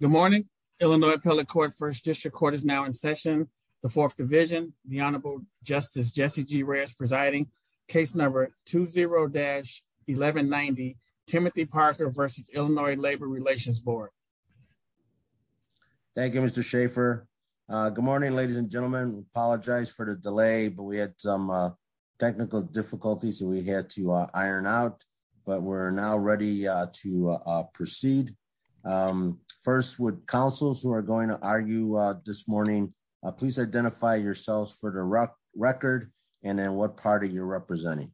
Good morning, Illinois Appellate Court, First District Court is now in session. The Fourth Division, the Honorable Justice Jesse G. Reyes presiding, case number 20-1190, Timothy Parker v. Illinois Labor Relations Board. Thank you, Mr. Schaffer. Good morning, ladies and gentlemen. We apologize for the delay, but we had some technical difficulties and we had to iron out, but we're now ready to proceed. First, would counsels who are going to argue this morning, please identify yourselves for the record and then what party you're representing.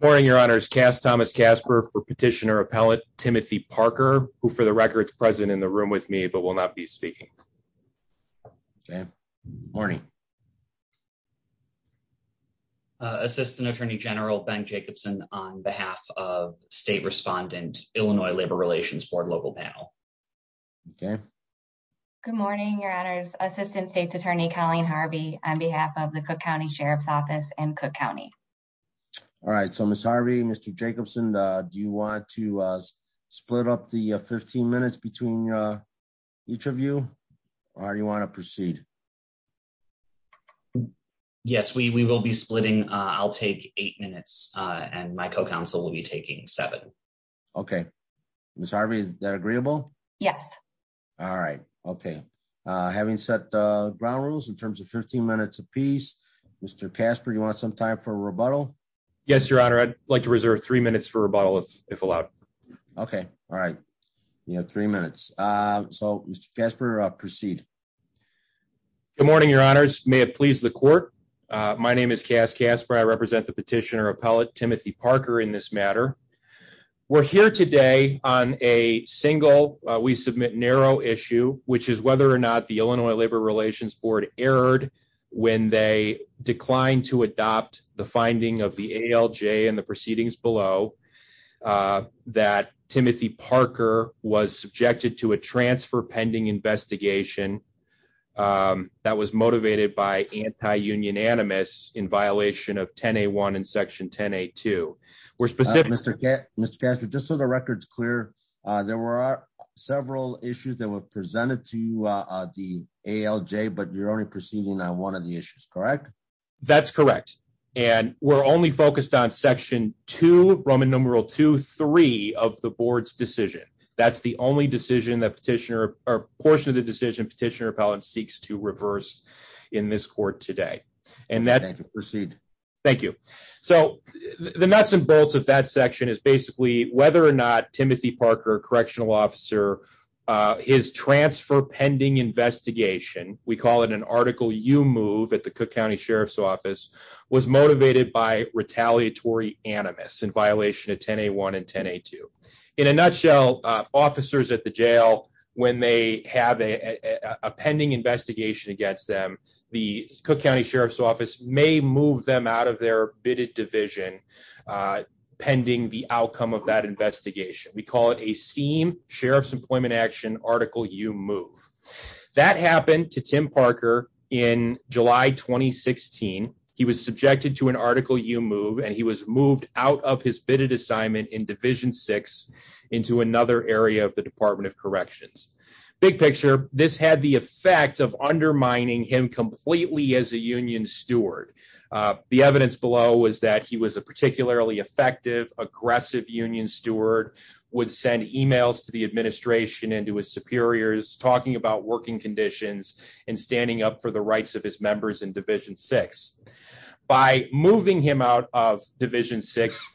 Good morning, your honors. Cass Thomas Casper for Petitioner Appellate, Timothy Parker, who for the record is present in the room with me, but will not be speaking. Okay, morning. Assistant Attorney General Ben Jacobson on behalf of State Respondent, Illinois Labor Relations Board Local Panel. Okay. Good morning, your honors. Assistant State's Attorney, Colleen Harvey on behalf of the Cook County Sheriff's Office in Cook County. All right, so Ms. Harvey, Mr. Jacobson, do you want to split up the 15 minutes between each of you or do you want to proceed? Yes, we will be splitting. I'll take eight minutes and my co-counsel will be taking seven. Okay. Ms. Harvey, is that agreeable? Yes. All right. Okay. Having set the ground rules in terms of 15 minutes apiece, Mr. Casper, you want some time for rebuttal? Yes, your honor. I'd like to reserve three minutes for rebuttal if allowed. Okay. All right. You have three minutes. So, Mr. Casper, proceed. Good morning, your honors. May it please the court. My name is Cass Casper. I We're here today on a single, we submit narrow issue, which is whether or not the Illinois Labor Relations Board erred when they declined to adopt the finding of the ALJ and the proceedings below that Timothy Parker was subjected to a transfer pending investigation that was motivated by anti-union animus in violation of 10A1 and section 10A2. Mr. Casper, just so the record's clear, there were several issues that were presented to the ALJ, but you're only proceeding on one of the issues, correct? That's correct. And we're only focused on section two, Roman numeral two, three of the board's decision. That's the only decision that petitioner or portion of the decision petitioner appellate seeks to reverse in this court today. Thank you. Proceed. Thank you. So, the nuts and bolts of that section is basically whether or not Timothy Parker, correctional officer, his transfer pending investigation, we call it an article you move at the Cook County Sheriff's office, was motivated by retaliatory animus in violation of 10A1 and 10A2. In a nutshell, officers at the jail, when they have a pending investigation against them, the Cook County Sheriff's office may move them out of their bidded division pending the outcome of that investigation. We call it a SEAM, Sheriff's Employment Action, article you move. That happened to Tim Parker in July, 2016. He was subjected to an article you move, and he was moved out of his bidded assignment in division six into another area of the Department of Corrections. Big picture, this had the effect of undermining him completely as a union steward. The evidence below was that he was a particularly effective, aggressive union steward, would send emails to the administration and to his superiors talking about working conditions and standing up for the rights of his members in division six. By moving him out of division six,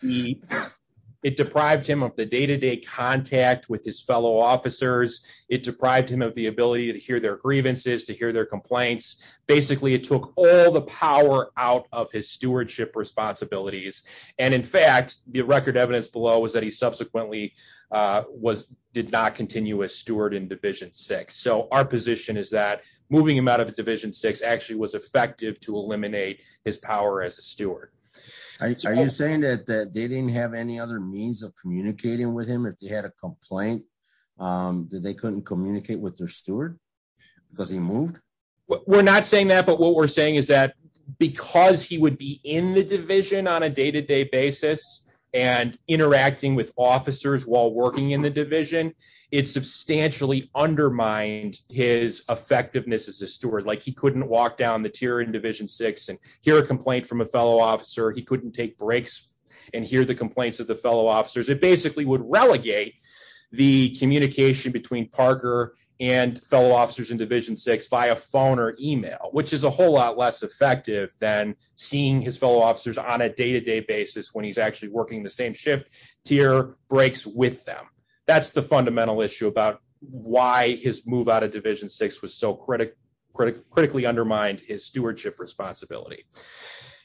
it deprived him of the day-to-day contact with his fellow officers. It deprived him of the ability to hear their grievances, to hear their complaints. Basically, it took all the power out of his stewardship responsibilities. In fact, the record evidence below was that he subsequently did not continue as steward in division six. Our position is that moving him out of division six actually was effective to eliminate his power as a steward. Are you saying that they didn't have any other means of communicating with him if they had a complaint, that they couldn't communicate with their steward because he moved? We're not saying that, but what we're saying is that because he would be in the division on a day-to-day basis and interacting with officers while working in the division, it substantially undermined his effectiveness as a steward. He couldn't walk down the tier in division six and hear a complaint from a fellow officer. He couldn't take breaks and hear the complaints of the fellow officers. It basically would relegate the communication between Parker and fellow officers in division six via phone or email, which is a whole lot less effective than seeing his fellow officers on a day-to-day basis when he's actually working the same shift tier breaks with them. That's the fundamental issue about why his move out of division six was so critically undermined his stewardship responsibility.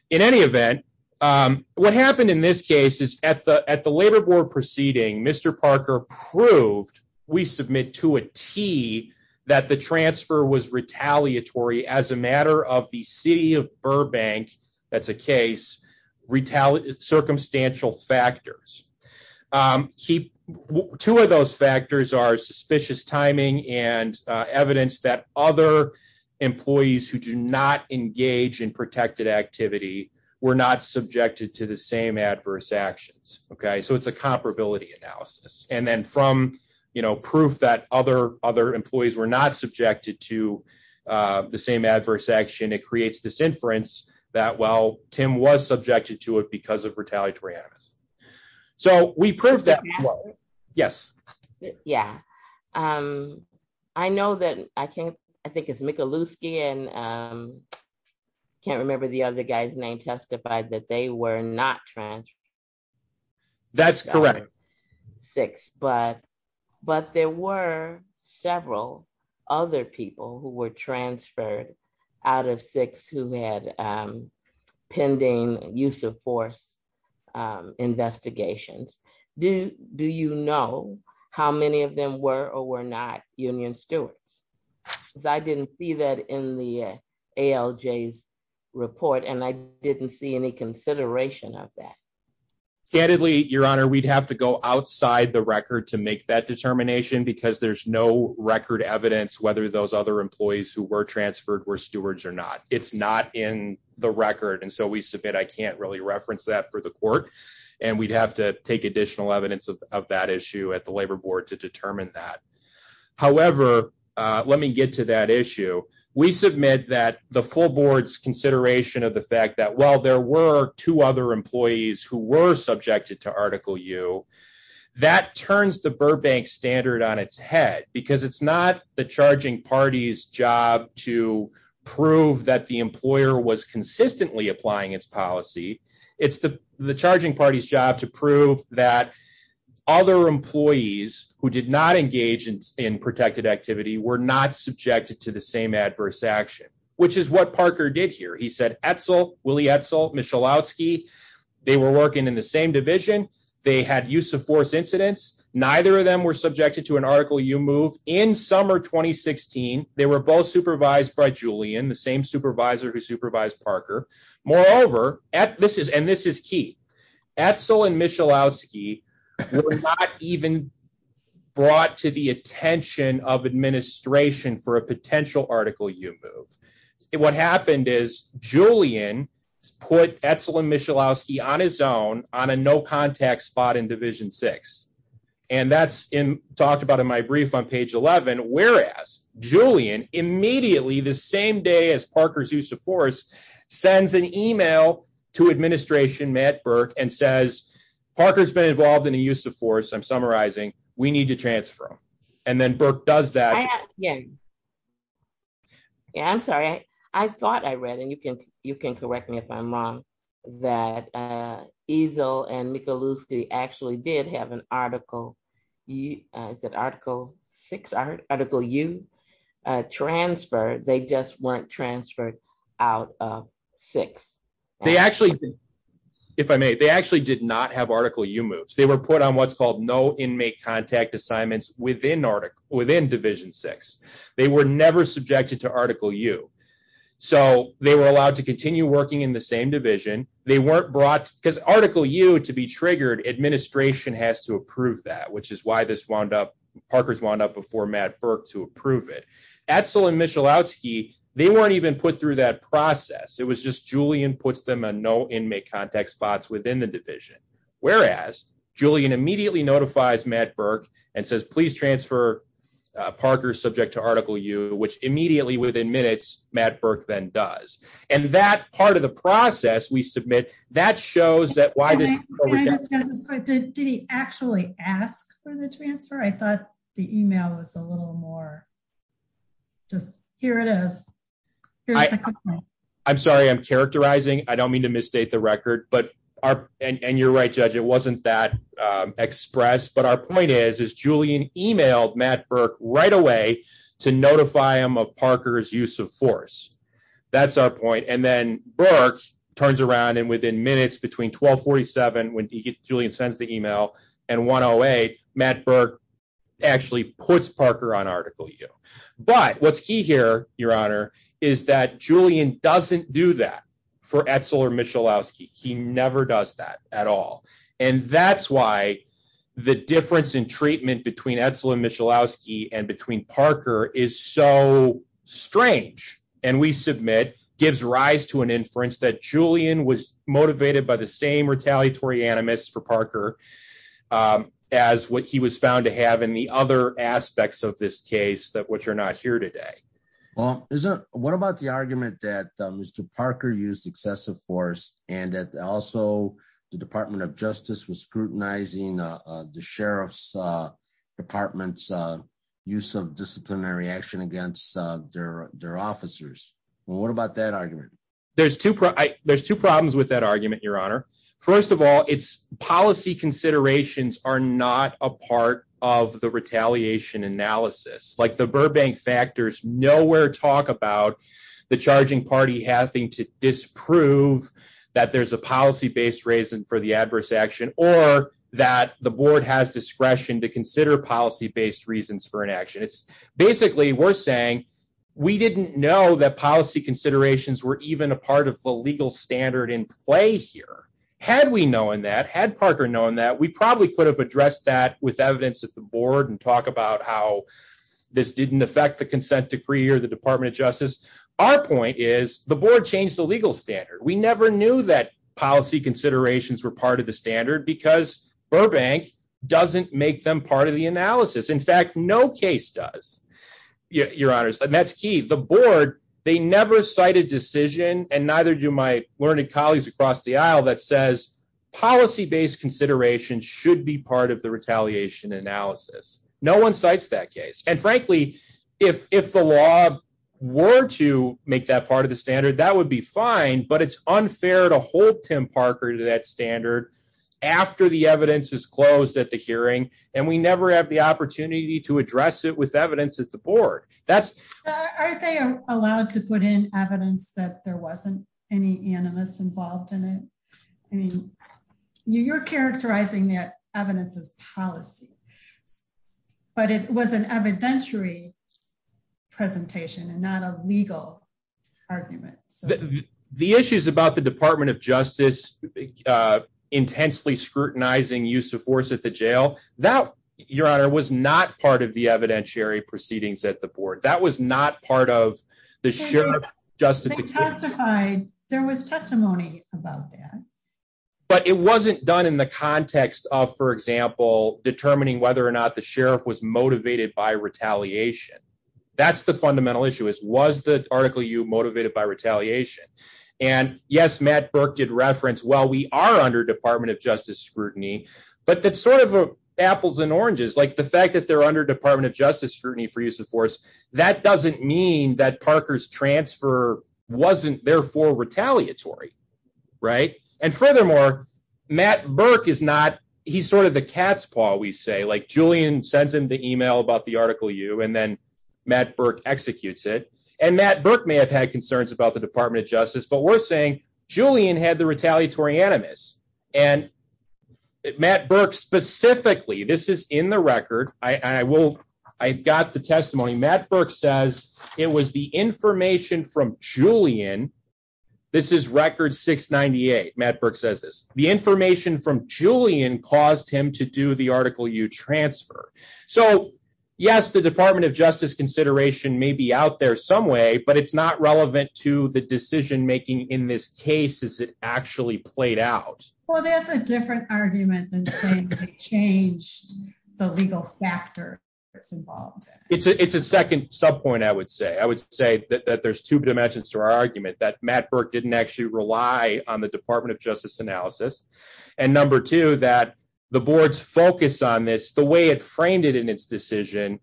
In any event, what happened in this case is at the labor board proceeding, Mr. Parker proved, we submit to a T, that the transfer was retaliatory as a matter of the city of Burbank, that's a case, retaliate circumstantial factors. Two of those factors are suspicious timing and evidence that other employees who do not engage in protected activity were not subjected to the same adverse actions. It's a comparability analysis. Then from proof that other employees were not subjected to the same adverse action, it creates this inference that while Tim was subjected to it because of retaliatory animus. We proved that. Yes. Yeah. I know that I can't, I think it's Michalewski and can't remember the other guy's name testified that they were not transferred. That's correct. Six, but there were several other people who were transferred out of six who had pending use of force investigations. Do you know how many of them were or were not union stewards? Because I didn't see that in the ALJ's report and I didn't see any consideration of that. Candidly, your honor, we'd have to go outside the record to make that determination because there's no record evidence, whether those other employees who were transferred were stewards or not, it's not in the record. And so we submit, I can't really reference that for the court. And we'd have to take additional evidence of that issue at the labor board to determine that. However, uh, let me get to that issue. We submit that the full board's consideration of the fact that while there were two other employees who were subjected to article U that turns the Burbank standard on its head, because it's not the charging party's job to prove that the employer was consistently applying its policy. It's the charging party's job to prove that other employees who did not engage in protected activity were not subjected to the same adverse action, which is what Parker did here. He said, Etzel, Willie Etzel, Michalowski, they were working in the same division. They had use of force incidents. Neither of them were subjected to an article you move in summer, 2016, they were both supervised by Julian, the same supervisor who supervised Parker. Moreover, at this is, and this is key. Etzel and Michalowski were not even brought to the attention of administration for a potential article you move. And what happened is Julian put Etzel and Michalowski on his own on a no contact spot in division six. And that's in talked about in my brief on page 11, whereas Julian immediately the same day as Parker's use of force sends an email to administration, Matt Burke, and says, Parker's been involved in a use of force. I'm summarizing. We need to transfer them. And then Burke does that. Yeah. Yeah, I'm sorry. I thought I read and you can, you can correct me if I'm wrong, that Etzel and Michalowski actually did have an article. You said article six article you transfer, they just weren't transferred out of six. They actually, if I may, they actually did not have were put on what's called no inmate contact assignments within article within division six, they were never subjected to article you. So they were allowed to continue working in the same division. They weren't brought because article you to be triggered administration has to approve that, which is why this wound up Parker's wound up before Matt Burke to approve it. Etzel and Michalowski, they weren't even put through that process. It was just Julian puts them a no inmate contact spots within the division. Whereas Julian immediately notifies Matt Burke and says, please transfer a Parker subject to article you, which immediately within minutes, Matt Burke then does. And that part of the process we submit that shows that why did he actually ask for the transfer? I thought the email was a little more just here it is. I'm sorry, I'm characterizing. I don't mean to misstate the record, but our, and you're right, judge, it wasn't that express. But our point is, is Julian emailed Matt Burke right away to notify him of Parker's use of force. That's our point. And then Burke turns around and within minutes between 1247, when Julian sends the email and 108, Matt Burke actually puts Parker on you. But what's key here, your honor, is that Julian doesn't do that for Etzel or Michalowski. He never does that at all. And that's why the difference in treatment between Etzel and Michalowski and between Parker is so strange. And we submit gives rise to an inference that Julian was motivated by the same retaliatory animus for Parker as what he was found to have in the other aspects of this case that which are not here today. Well, what about the argument that Mr. Parker used excessive force and that also the Department of Justice was scrutinizing the sheriff's department's use of disciplinary action against their officers? What about that argument? There's two problems with that argument, your honor. First of all, it's policy considerations are not a part of the retaliation analysis. Like the Burbank factors nowhere talk about the charging party having to disprove that there's a policy-based reason for the adverse action or that the board has discretion to consider policy-based reasons for an action. It's basically we're saying we didn't know that policy considerations were even a part of the legal standard in play here. Had we known that, had Parker known that, we probably could have addressed that with evidence at the board and talk about how this didn't affect the consent decree or the Department of Justice. Our point is the board changed the legal standard. We never knew that policy considerations were part of the standard because Burbank doesn't make them part of the analysis. In fact, no case does, your honors. And that's key. The board, they never cite a decision and neither do my learned colleagues across the aisle that says policy-based considerations should be part of the retaliation analysis. No one cites that case. And frankly, if the law were to make that part of the standard, that would be fine, but it's unfair to hold Tim Parker to that standard after the evidence is closed at the hearing. And we never have the opportunity to address it with evidence that there wasn't any animus involved in it. I mean, you're characterizing that evidence as policy, but it was an evidentiary presentation and not a legal argument. The issues about the Department of Justice intensely scrutinizing use of force at the jail, that, your honor, was not part of the evidentiary proceedings at the board. That was not part of the sheriff's justification. There was testimony about that. But it wasn't done in the context of, for example, determining whether or not the sheriff was motivated by retaliation. That's the fundamental issue, was the article you motivated by retaliation? And yes, Matt Burke did reference, well, we are under Department of Justice scrutiny, but that's sort of apples and oranges. Like the fact that they're under Department of Justice scrutiny for use of force, that doesn't mean that Parker's transfer wasn't therefore retaliatory, right? And furthermore, Matt Burke is not, he's sort of the cat's paw, we say. Like Julian sends him the email about the Article U, and then Matt Burke executes it. And Matt Burke may have had concerns about the Department of Justice, but we're saying Julian had the retaliatory animus. And Matt Burke specifically, this is in the record, I will, I've got the testimony. Matt Burke says it was the information from Julian. This is record 698. Matt Burke says this. The information from Julian caused him to do the Article U transfer. So yes, the Department of Justice consideration may be out there some way, but it's not relevant to the decision making in this case as it actually played out. Well, that's a different argument than saying they changed the legal factor that's involved. It's a second sub point, I would say. I would say that there's two dimensions to our argument, that Matt Burke didn't actually rely on the Department of Justice analysis. And number two, that the board's focus on this, the way it framed it in its decision,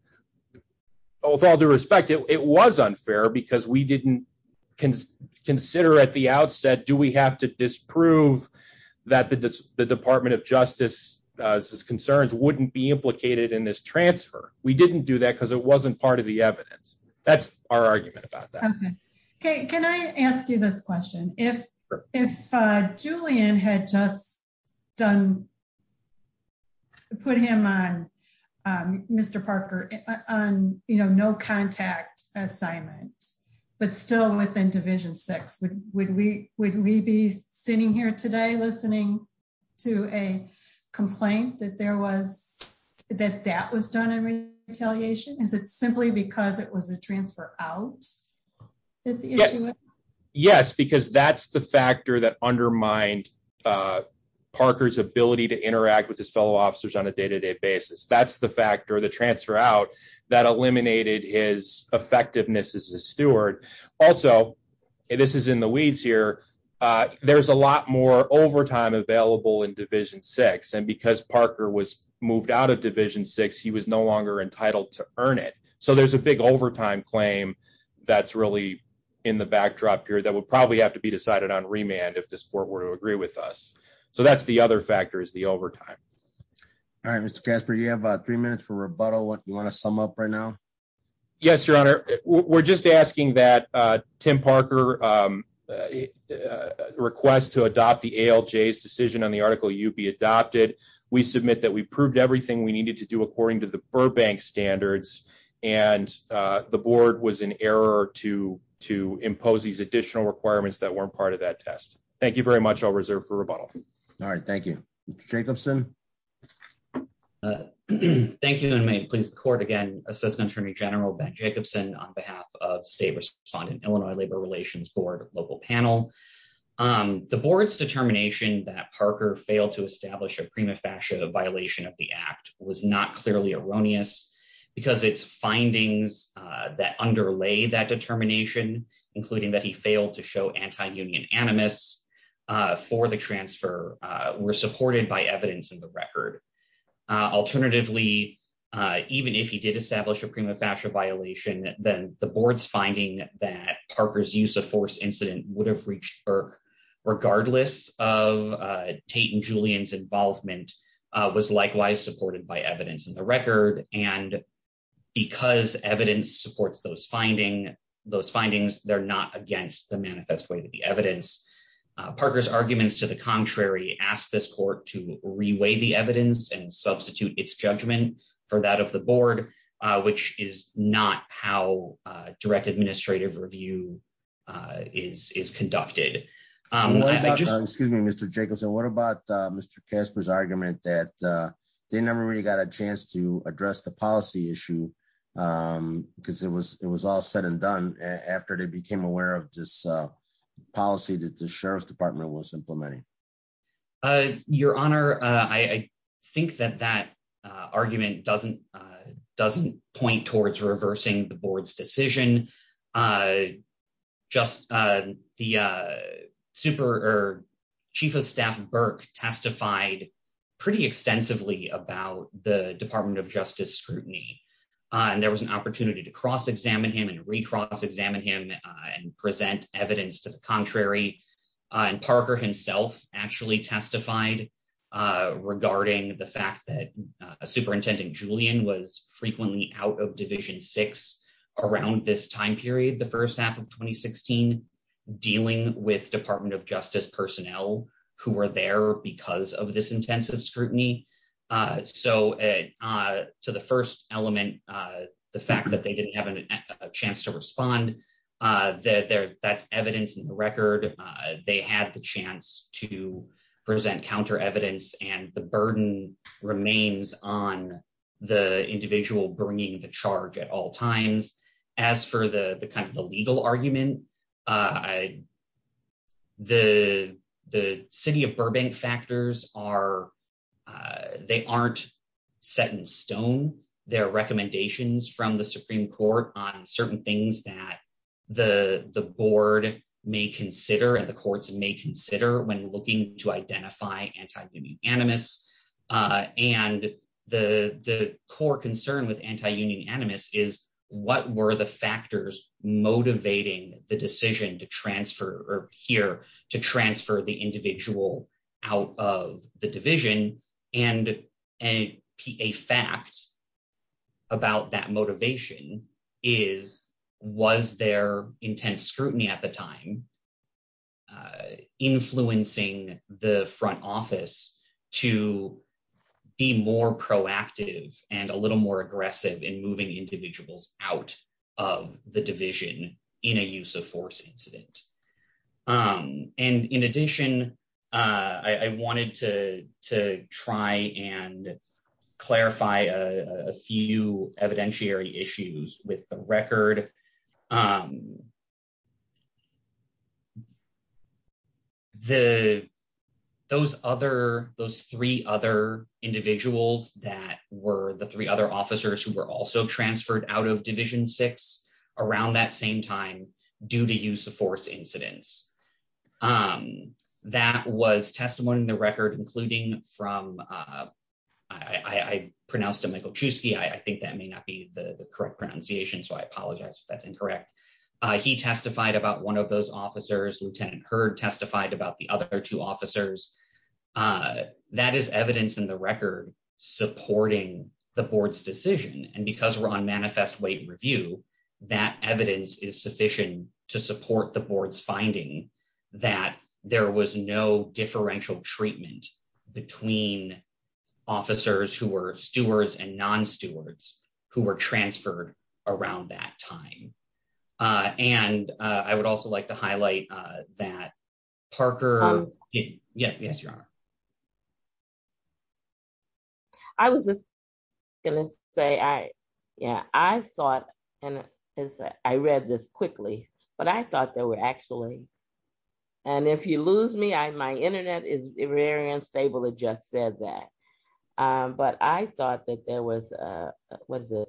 with all due respect, it was unfair because we didn't consider at the outset, do we have to disprove that the Department of Justice's concerns wouldn't be implicated in this transfer? We didn't do that because it wasn't part of the evidence. That's our argument about that. Okay, can I ask you this question? If Julian had just done, put him on, Mr. Parker, on, you know, no contact assignment, but still within Division VI, would we be sitting here today listening to a complaint that there was, that that was done in retaliation? Is it simply because it was a Yes, because that's the factor that undermined Parker's ability to interact with his fellow officers on a day-to-day basis. That's the factor, the transfer out that eliminated his effectiveness as a steward. Also, this is in the weeds here, there's a lot more overtime available in Division VI. And because Parker was moved out of Division VI, he was no longer entitled to earn it. So there's a big overtime claim that's really in the backdrop here that would probably have to be decided on remand if this court were to agree with us. So that's the other factor is the overtime. All right, Mr. Casper, you have three minutes for rebuttal. What do you want to sum up right now? Yes, Your Honor, we're just asking that Tim Parker request to adopt the ALJ's decision on the article you'd be adopted. We submit that we proved everything we needed to do according to Burbank standards, and the board was in error to impose these additional requirements that weren't part of that test. Thank you very much, I'll reserve for rebuttal. All right, thank you. Mr. Jacobson? Thank you, and may it please the court again, Assistant Attorney General Ben Jacobson on behalf of State Respondent Illinois Labor Relations Board Local Panel. The board's determination that because its findings that underlay that determination, including that he failed to show anti-union animus for the transfer, were supported by evidence in the record. Alternatively, even if he did establish a prima facie violation, then the board's finding that Parker's use of force incident would have reached Burke regardless of Tate and Julian's involvement was likewise supported by evidence in the record, and because evidence supports those findings, they're not against the manifest way to the evidence. Parker's arguments to the contrary ask this court to reweigh the evidence and substitute its judgment for that of the board, which is not how direct administrative review is conducted. Excuse me, Mr. Jacobson, what about Mr. Casper's argument that they never really got a chance to address the policy issue because it was all said and done after they became aware of this policy that the Sheriff's Department was implementing? Your Honor, I think that that argument doesn't point towards reversing the policy. I think that Parker testified pretty extensively about the Department of Justice scrutiny, and there was an opportunity to cross-examine him and re-cross-examine him and present evidence to the contrary, and Parker himself actually testified regarding the fact that Superintendent Julian was frequently out of Division 6 around this time period, the first half of 2016, dealing with Department of Justice personnel who were there because of this intensive scrutiny. So to the first element, the fact that they didn't have a chance to respond, that's evidence in the record. They had the chance to present counter-evidence, and the burden remains on the individual bringing the charge at all times. As for the legal argument, the City of Burbank factors aren't set in stone. There are recommendations from the Supreme Court on certain things that the board may consider and the courts may consider when looking to identify anti-union animus, and the core concern with anti-union animus is what were the factors motivating the decision to transfer or here to transfer the individual out of the division, and a fact about that motivation is was there intense scrutiny at the time influencing the front office to be more proactive and a little more aggressive in moving individuals out of the division in a use of force incident. And in addition, I wanted to try and clarify a few evidentiary issues with the record. Those three other individuals that were the three out of division six around that same time due to use of force incidents, that was testimony in the record, including from, I pronounced him Michael Chusky. I think that may not be the correct pronunciation, so I apologize if that's incorrect. He testified about one of those officers. Lieutenant Hurd testified about the other two officers. That is evidence in the review that evidence is sufficient to support the board's finding that there was no differential treatment between officers who were stewards and non-stewards who were transferred around that time. I read this quickly, but I thought there were actually, and if you lose me, my internet is very unstable. It just said that, but I thought that there was a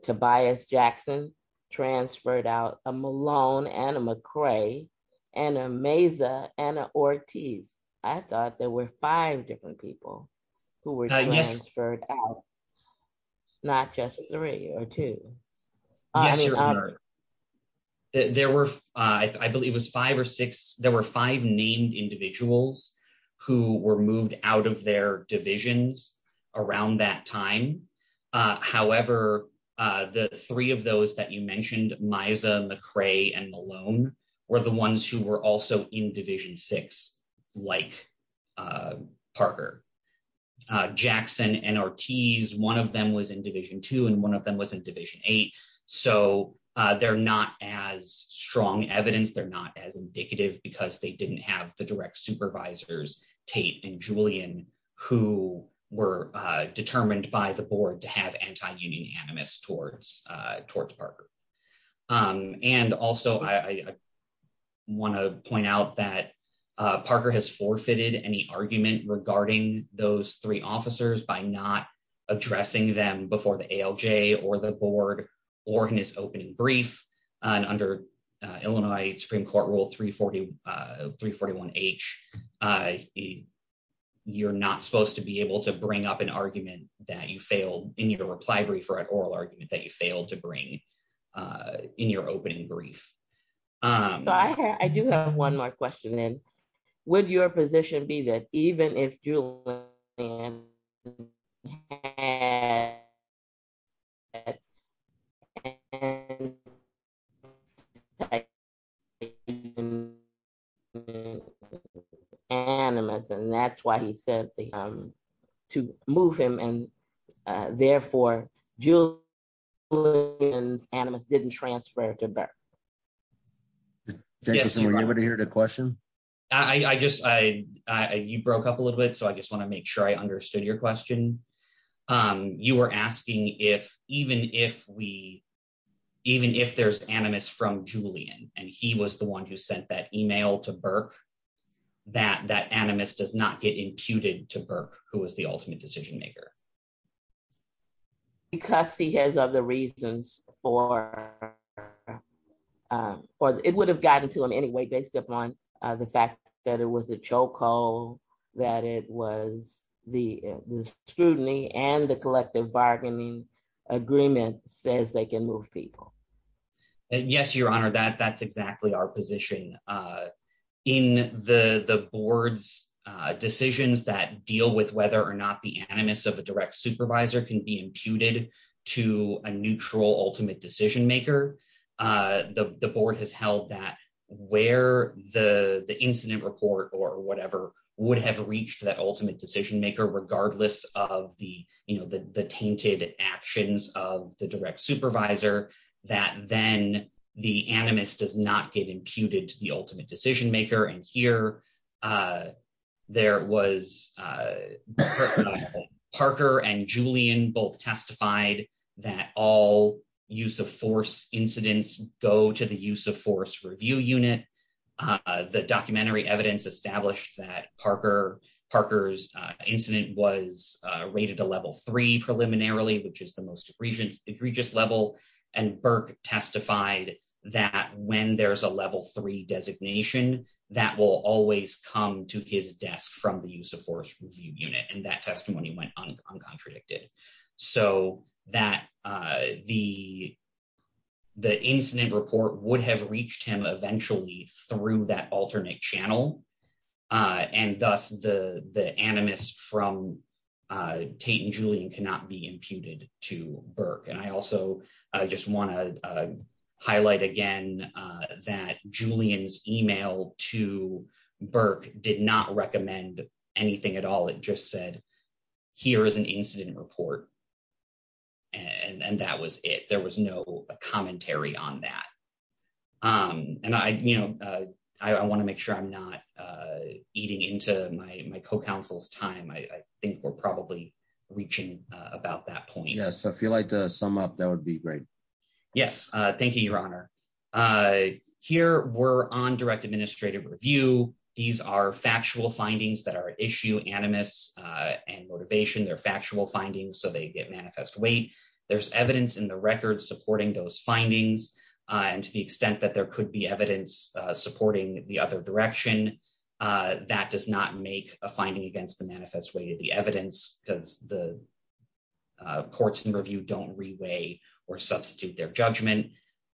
Tobias Jackson transferred out, a Malone, and a McCray, and a Meza, and an Ortiz. I thought there were five different people who were transferred out, not just three or two. Yes, your honor. There were, I believe it was five or six, there were five named individuals who were moved out of their divisions around that time. However, the three of those that you mentioned, Meza, McCray, and Malone, were the ones who were also in division six like Parker. Jackson and Ortiz, one of them was in division two and one of them was in division eight, so they're not as strong evidence. They're not as indicative because they didn't have the direct supervisors, Tate and Julian, who were determined by the board to have anti-union animus towards Parker. Also, I want to point out that Parker has forfeited any argument regarding those three officers by not addressing them before the ALJ, or the board, or in his opening brief. Under Illinois Supreme Court Rule 341H, you're not supposed to be able to bring up an argument that you failed in your reply brief or an oral argument that you failed to bring in your opening brief. I do have one more question, and would your position be that even if and therefore Julian's animus didn't transfer to Burke? Jackson, were you able to hear the question? You broke up a little bit, so I just want to make sure I understood your question. You were asking if even if there's animus from Julian and he was the one who sent that email to Burke, who was the ultimate decision maker? Because he has other reasons for... It would have gotten to him anyway, based upon the fact that it was a chokehold, that it was the scrutiny and the collective bargaining agreement says they can move people. Yes, Your Honor, that's exactly our position. In the board's decisions that deal with whether or not the animus of a direct supervisor can be imputed to a neutral ultimate decision maker, the board has held that where the incident report or whatever would have reached that ultimate decision maker, regardless of the tainted actions of the direct supervisor, that then the animus does not get imputed to the ultimate decision maker. And here, there was... Parker and Julian both testified that all use of force incidents go to the use of force review unit. The documentary evidence established that Parker's incident was rated a level three preliminarily, which is the most egregious level, and Burke testified that when there's a level three designation, that will always come to his desk from the use of force review unit, and that testimony went uncontradicted. So that the incident report would have reached him eventually through that alternate channel, and thus the animus from Tate and Julian cannot be imputed to Burke. And I also just want to highlight again that Julian's email to Burke did not recommend anything at all. It just said, here is an incident report, and that was it. There was no commentary on that. And I want to make sure I'm not eating into my co-counsel's time. I think we're probably reaching about that point. Yes. So if you'd like to sum up, that would be great. Yes. Thank you, Your Honor. Here, we're on direct administrative review. These are factual findings that are issue animus and motivation. They're factual findings, so they get manifest weight. There's evidence in the record supporting those findings, and to the extent that there could be evidence supporting the other direction, that does not make a finding against the manifest weight of the evidence, because the courts in review don't reweigh or substitute their judgment.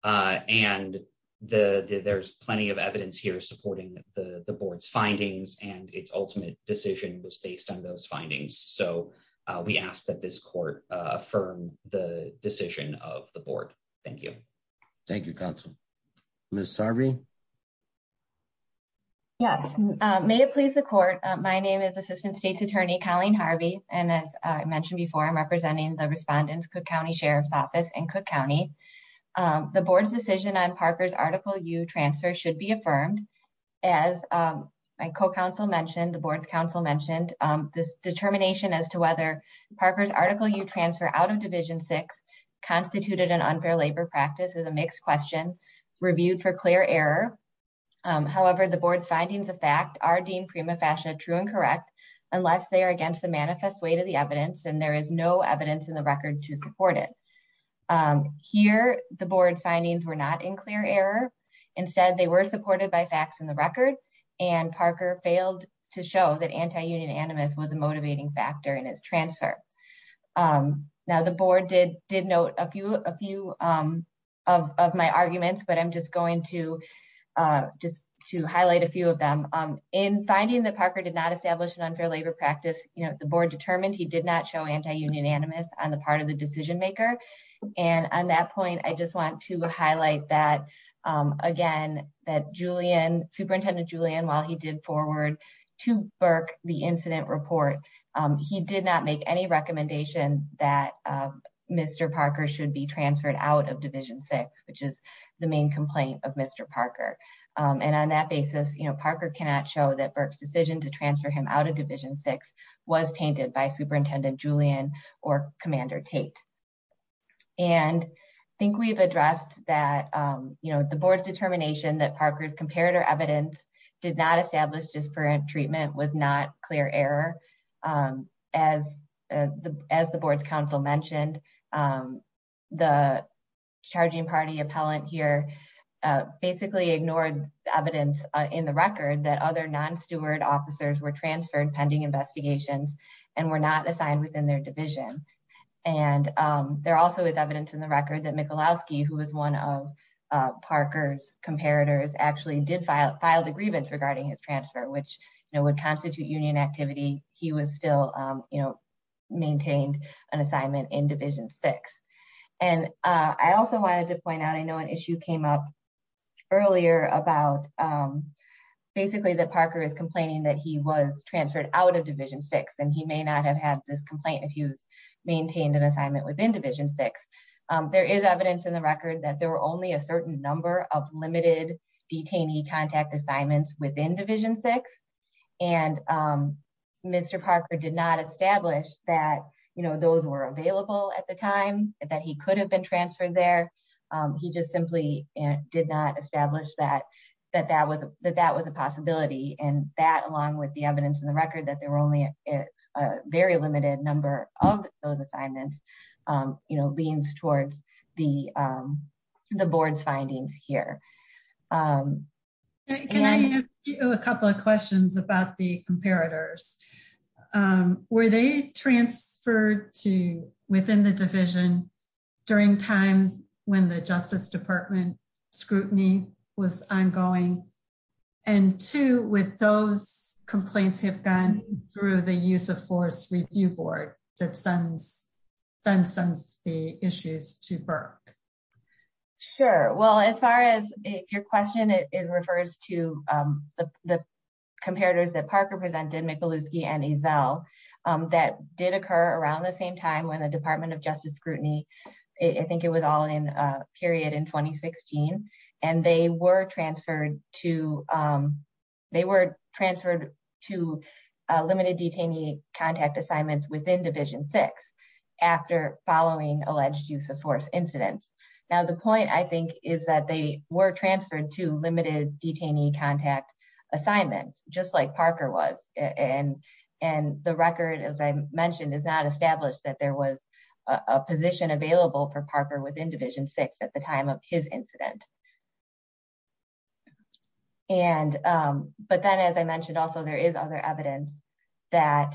And there's plenty of evidence here supporting the board's findings, and its ultimate decision was based on those findings. So we ask that this court affirm the decision of the board. Thank you. Thank you, counsel. Ms. Harvey? Yes. May it please the court. My name is Assistant State's Attorney Colleen Harvey, and as I mentioned before, I'm representing the respondents Cook County Sheriff's Office in Cook County. The board's decision on Parker's Article U transfer should be affirmed. As my co-counsel mentioned, the board's counsel mentioned this determination as to whether Parker's Article U transfer out of Division 6 constituted an unfair labor practice is a mixed question, reviewed for clear error. However, the board's findings of fact are deemed prima facie true and correct, unless they are against the manifest weight of the evidence, and there is no evidence in the record to support it. Here, the board's findings were not in clear error. Instead, they were supported by facts in the record, and Parker failed to show that anti-union animus was a motivating factor in his transfer. Now, the board did note a few of my arguments, but I'm just going to highlight a few of them. In finding that Parker did not establish an unfair labor practice, the board determined he did not show anti-union animus on the part of the decision maker. And on that point, I just want to highlight that again, that Superintendent Julian, while he did forward to Burke the incident report, he did not make any recommendation that Mr. Parker should be transferred out of Division 6, which is the main complaint of Mr. Parker. And on that basis, Parker cannot show that Burke's decision to transfer him out of Division 6 was tainted by Superintendent Julian or Commander Tate. And I think we've addressed that, you know, the board's determination that Parker's comparator evidence did not establish disparate treatment was not clear error. As the board's counsel mentioned, the charging party appellant here basically ignored evidence in the record that other non-steward officers were transferred pending investigations and were not assigned within their division. And there also is evidence in the record that Michalowski, who was one of Parker's comparators, actually did file the grievance regarding his transfer, which would constitute union activity. He was still, you know, maintained an assignment in Division 6. And I also wanted to point out, I know an issue came up earlier about basically that Parker is maintained an assignment within Division 6. There is evidence in the record that there were only a certain number of limited detainee contact assignments within Division 6. And Mr. Parker did not establish that, you know, those were available at the time, that he could have been transferred there. He just simply did not establish that that was a possibility. And that, along with the evidence in the record that there were only a very limited number of those assignments, you know, leans towards the board's findings here. Can I ask you a couple of questions about the comparators? Were they transferred to within the those complaints have gone through the Use of Force Review Board that then sends the issues to Burke? Sure. Well, as far as your question, it refers to the comparators that Parker presented, Michalowski and Ezell, that did occur around the same time when the Department of Justice scrutiny, I think it was all in a period in 2016. And they were transferred to limited detainee contact assignments within Division 6 after following alleged use of force incidents. Now, the point, I think, is that they were transferred to limited detainee contact assignments, just like Parker was. And the record, as I mentioned, is not established that there was a position available for Parker within Division 6 at the time of his incident. But then, as I mentioned, also, there is other evidence that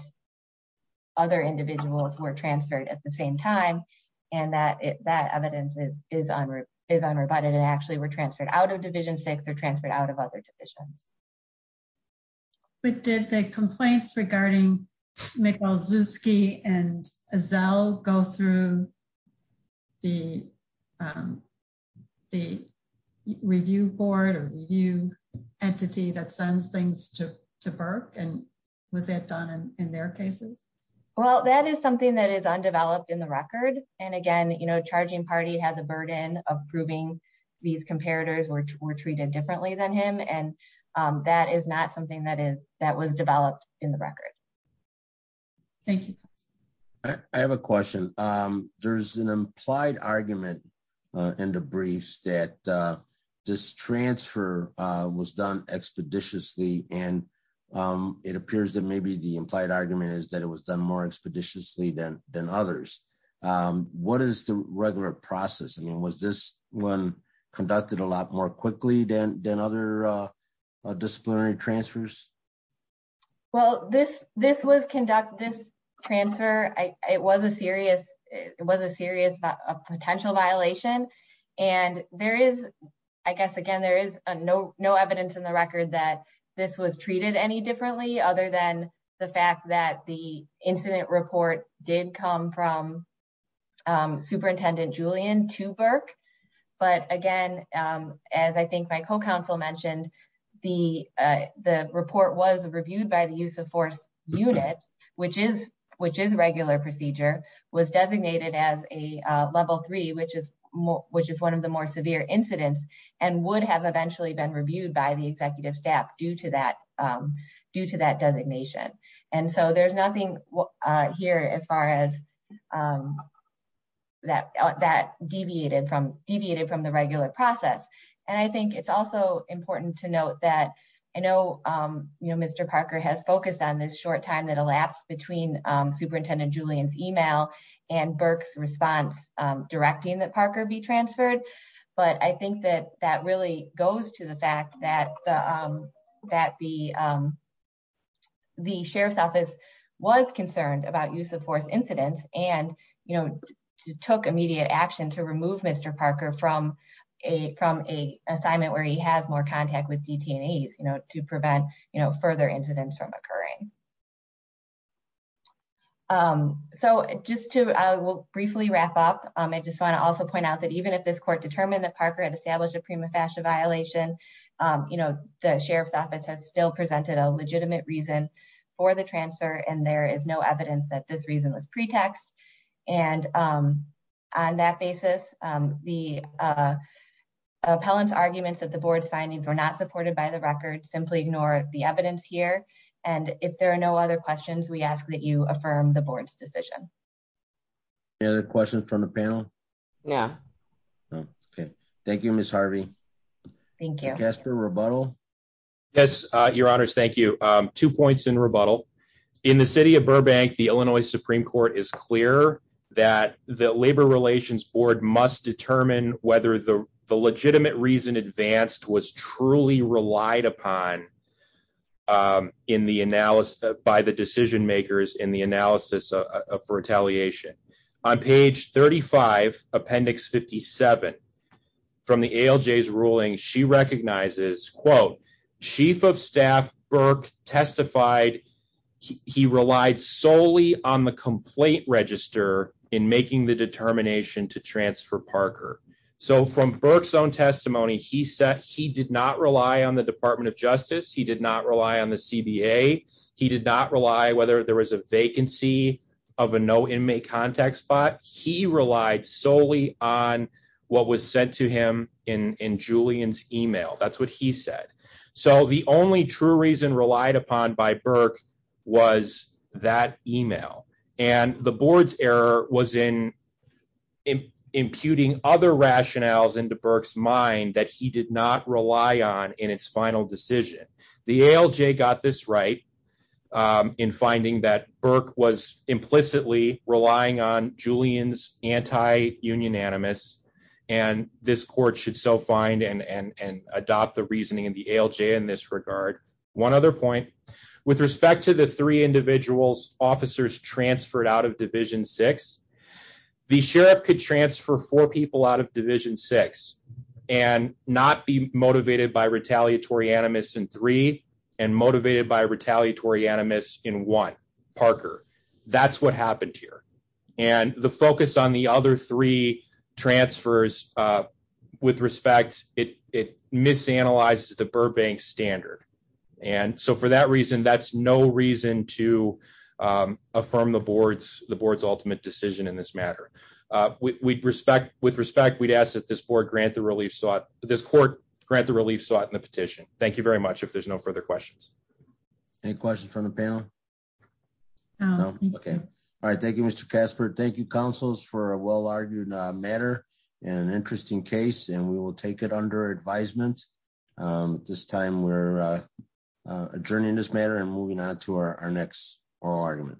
other individuals were transferred at the same time. And that evidence is unrebutted and actually were transferred out of Division 6 of other divisions. But did the complaints regarding Michalowski and Ezell go through the review board or review entity that sends things to Burke? And was that done in their cases? Well, that is something that is undeveloped in the record. And again, you know, and that is not something that was developed in the record. Thank you. I have a question. There's an implied argument in the briefs that this transfer was done expeditiously. And it appears that maybe the implied argument is that it was done more expeditiously than others. What is the regular process? I mean, was this one conducted a lot more quickly than other disciplinary transfers? Well, this transfer, it was a serious potential violation. And there is, I guess, again, there is no evidence in the record that this was treated any differently other than the fact that the incident report did come from Superintendent Julian to Burke. But again, as I think my co-counsel mentioned, the report was reviewed by the use of force unit, which is regular procedure, was designated as a level three, which is one of the more severe incidents and would have eventually been reviewed by the executive staff due to that designation. And so there's nothing here as far as that deviated from the regular process. And I think it's also important to note that I know Mr. Parker has focused on this short time that elapsed between Superintendent Julian's email and Burke's response directing that Parker be transferred. But I think that that really goes to the fact that the sheriff's office was concerned about use of force incidents and took immediate action to remove Mr. Parker from an assignment where he has more contact with detainees to prevent further incidents from occurring. So just to briefly wrap up, I just want to also point out that even if this court determined that Parker had established a prima facie violation, the sheriff's office has still presented a reasonless pretext. And on that basis, the appellant's arguments that the board's findings were not supported by the record simply ignore the evidence here. And if there are no other questions, we ask that you affirm the board's decision. Any other questions from the panel? No. Okay. Thank you, Ms. Harvey. Thank you. Mr. Gasper, rebuttal? Yes, your honors. Thank you. Two points in rebuttal. In the city of Burbank, the Illinois Supreme Court is clear that the Labor Relations Board must determine whether the legitimate reason advanced was truly relied upon by the decision makers in the analysis for retaliation. On page 35, appendix 57, from the ALJ's ruling, she recognizes, quote, Chief of Staff Burke testified he relied solely on the complaint register in making the determination to transfer Parker. So from Burke's own testimony, he said he did not rely on the Department of Justice, he did not rely on the CBA, he did not rely whether there was a vacancy of a no-inmate contact spot. He relied solely on what was sent to him in Julian's email. That's what he said. So the only true reason relied upon by Burke was that email. And the board's error was in imputing other rationales into Burke's mind that he did not rely on in its final decision. The ALJ got this right in finding that Burke was implicitly relying on Julian's anti-union animus, and this court should so find and adopt the reasoning of the ALJ in this regard. One other point. With respect to the three individuals officers transferred out of Division 6, the sheriff could transfer four people out of Division 6 and not be motivated by retaliatory animus in three, and motivated by retaliatory animus in one, Parker. That's what happened here. And the focus on the other three transfers, with respect, it misanalyzes the Burbank standard. And so for that reason, that's no reason to affirm the board's ultimate decision in this matter. With respect, we'd ask that this court grant the relief sought in the petition. Thank you very much. If there's no further questions. Any questions from the panel? No? Okay. All right. Thank you, Mr. Casper. Thank you, counsels, for a well-argued matter and an interesting case, and we will take it under advisement. At this time, we're adjourning this matter and moving on to our next oral argument.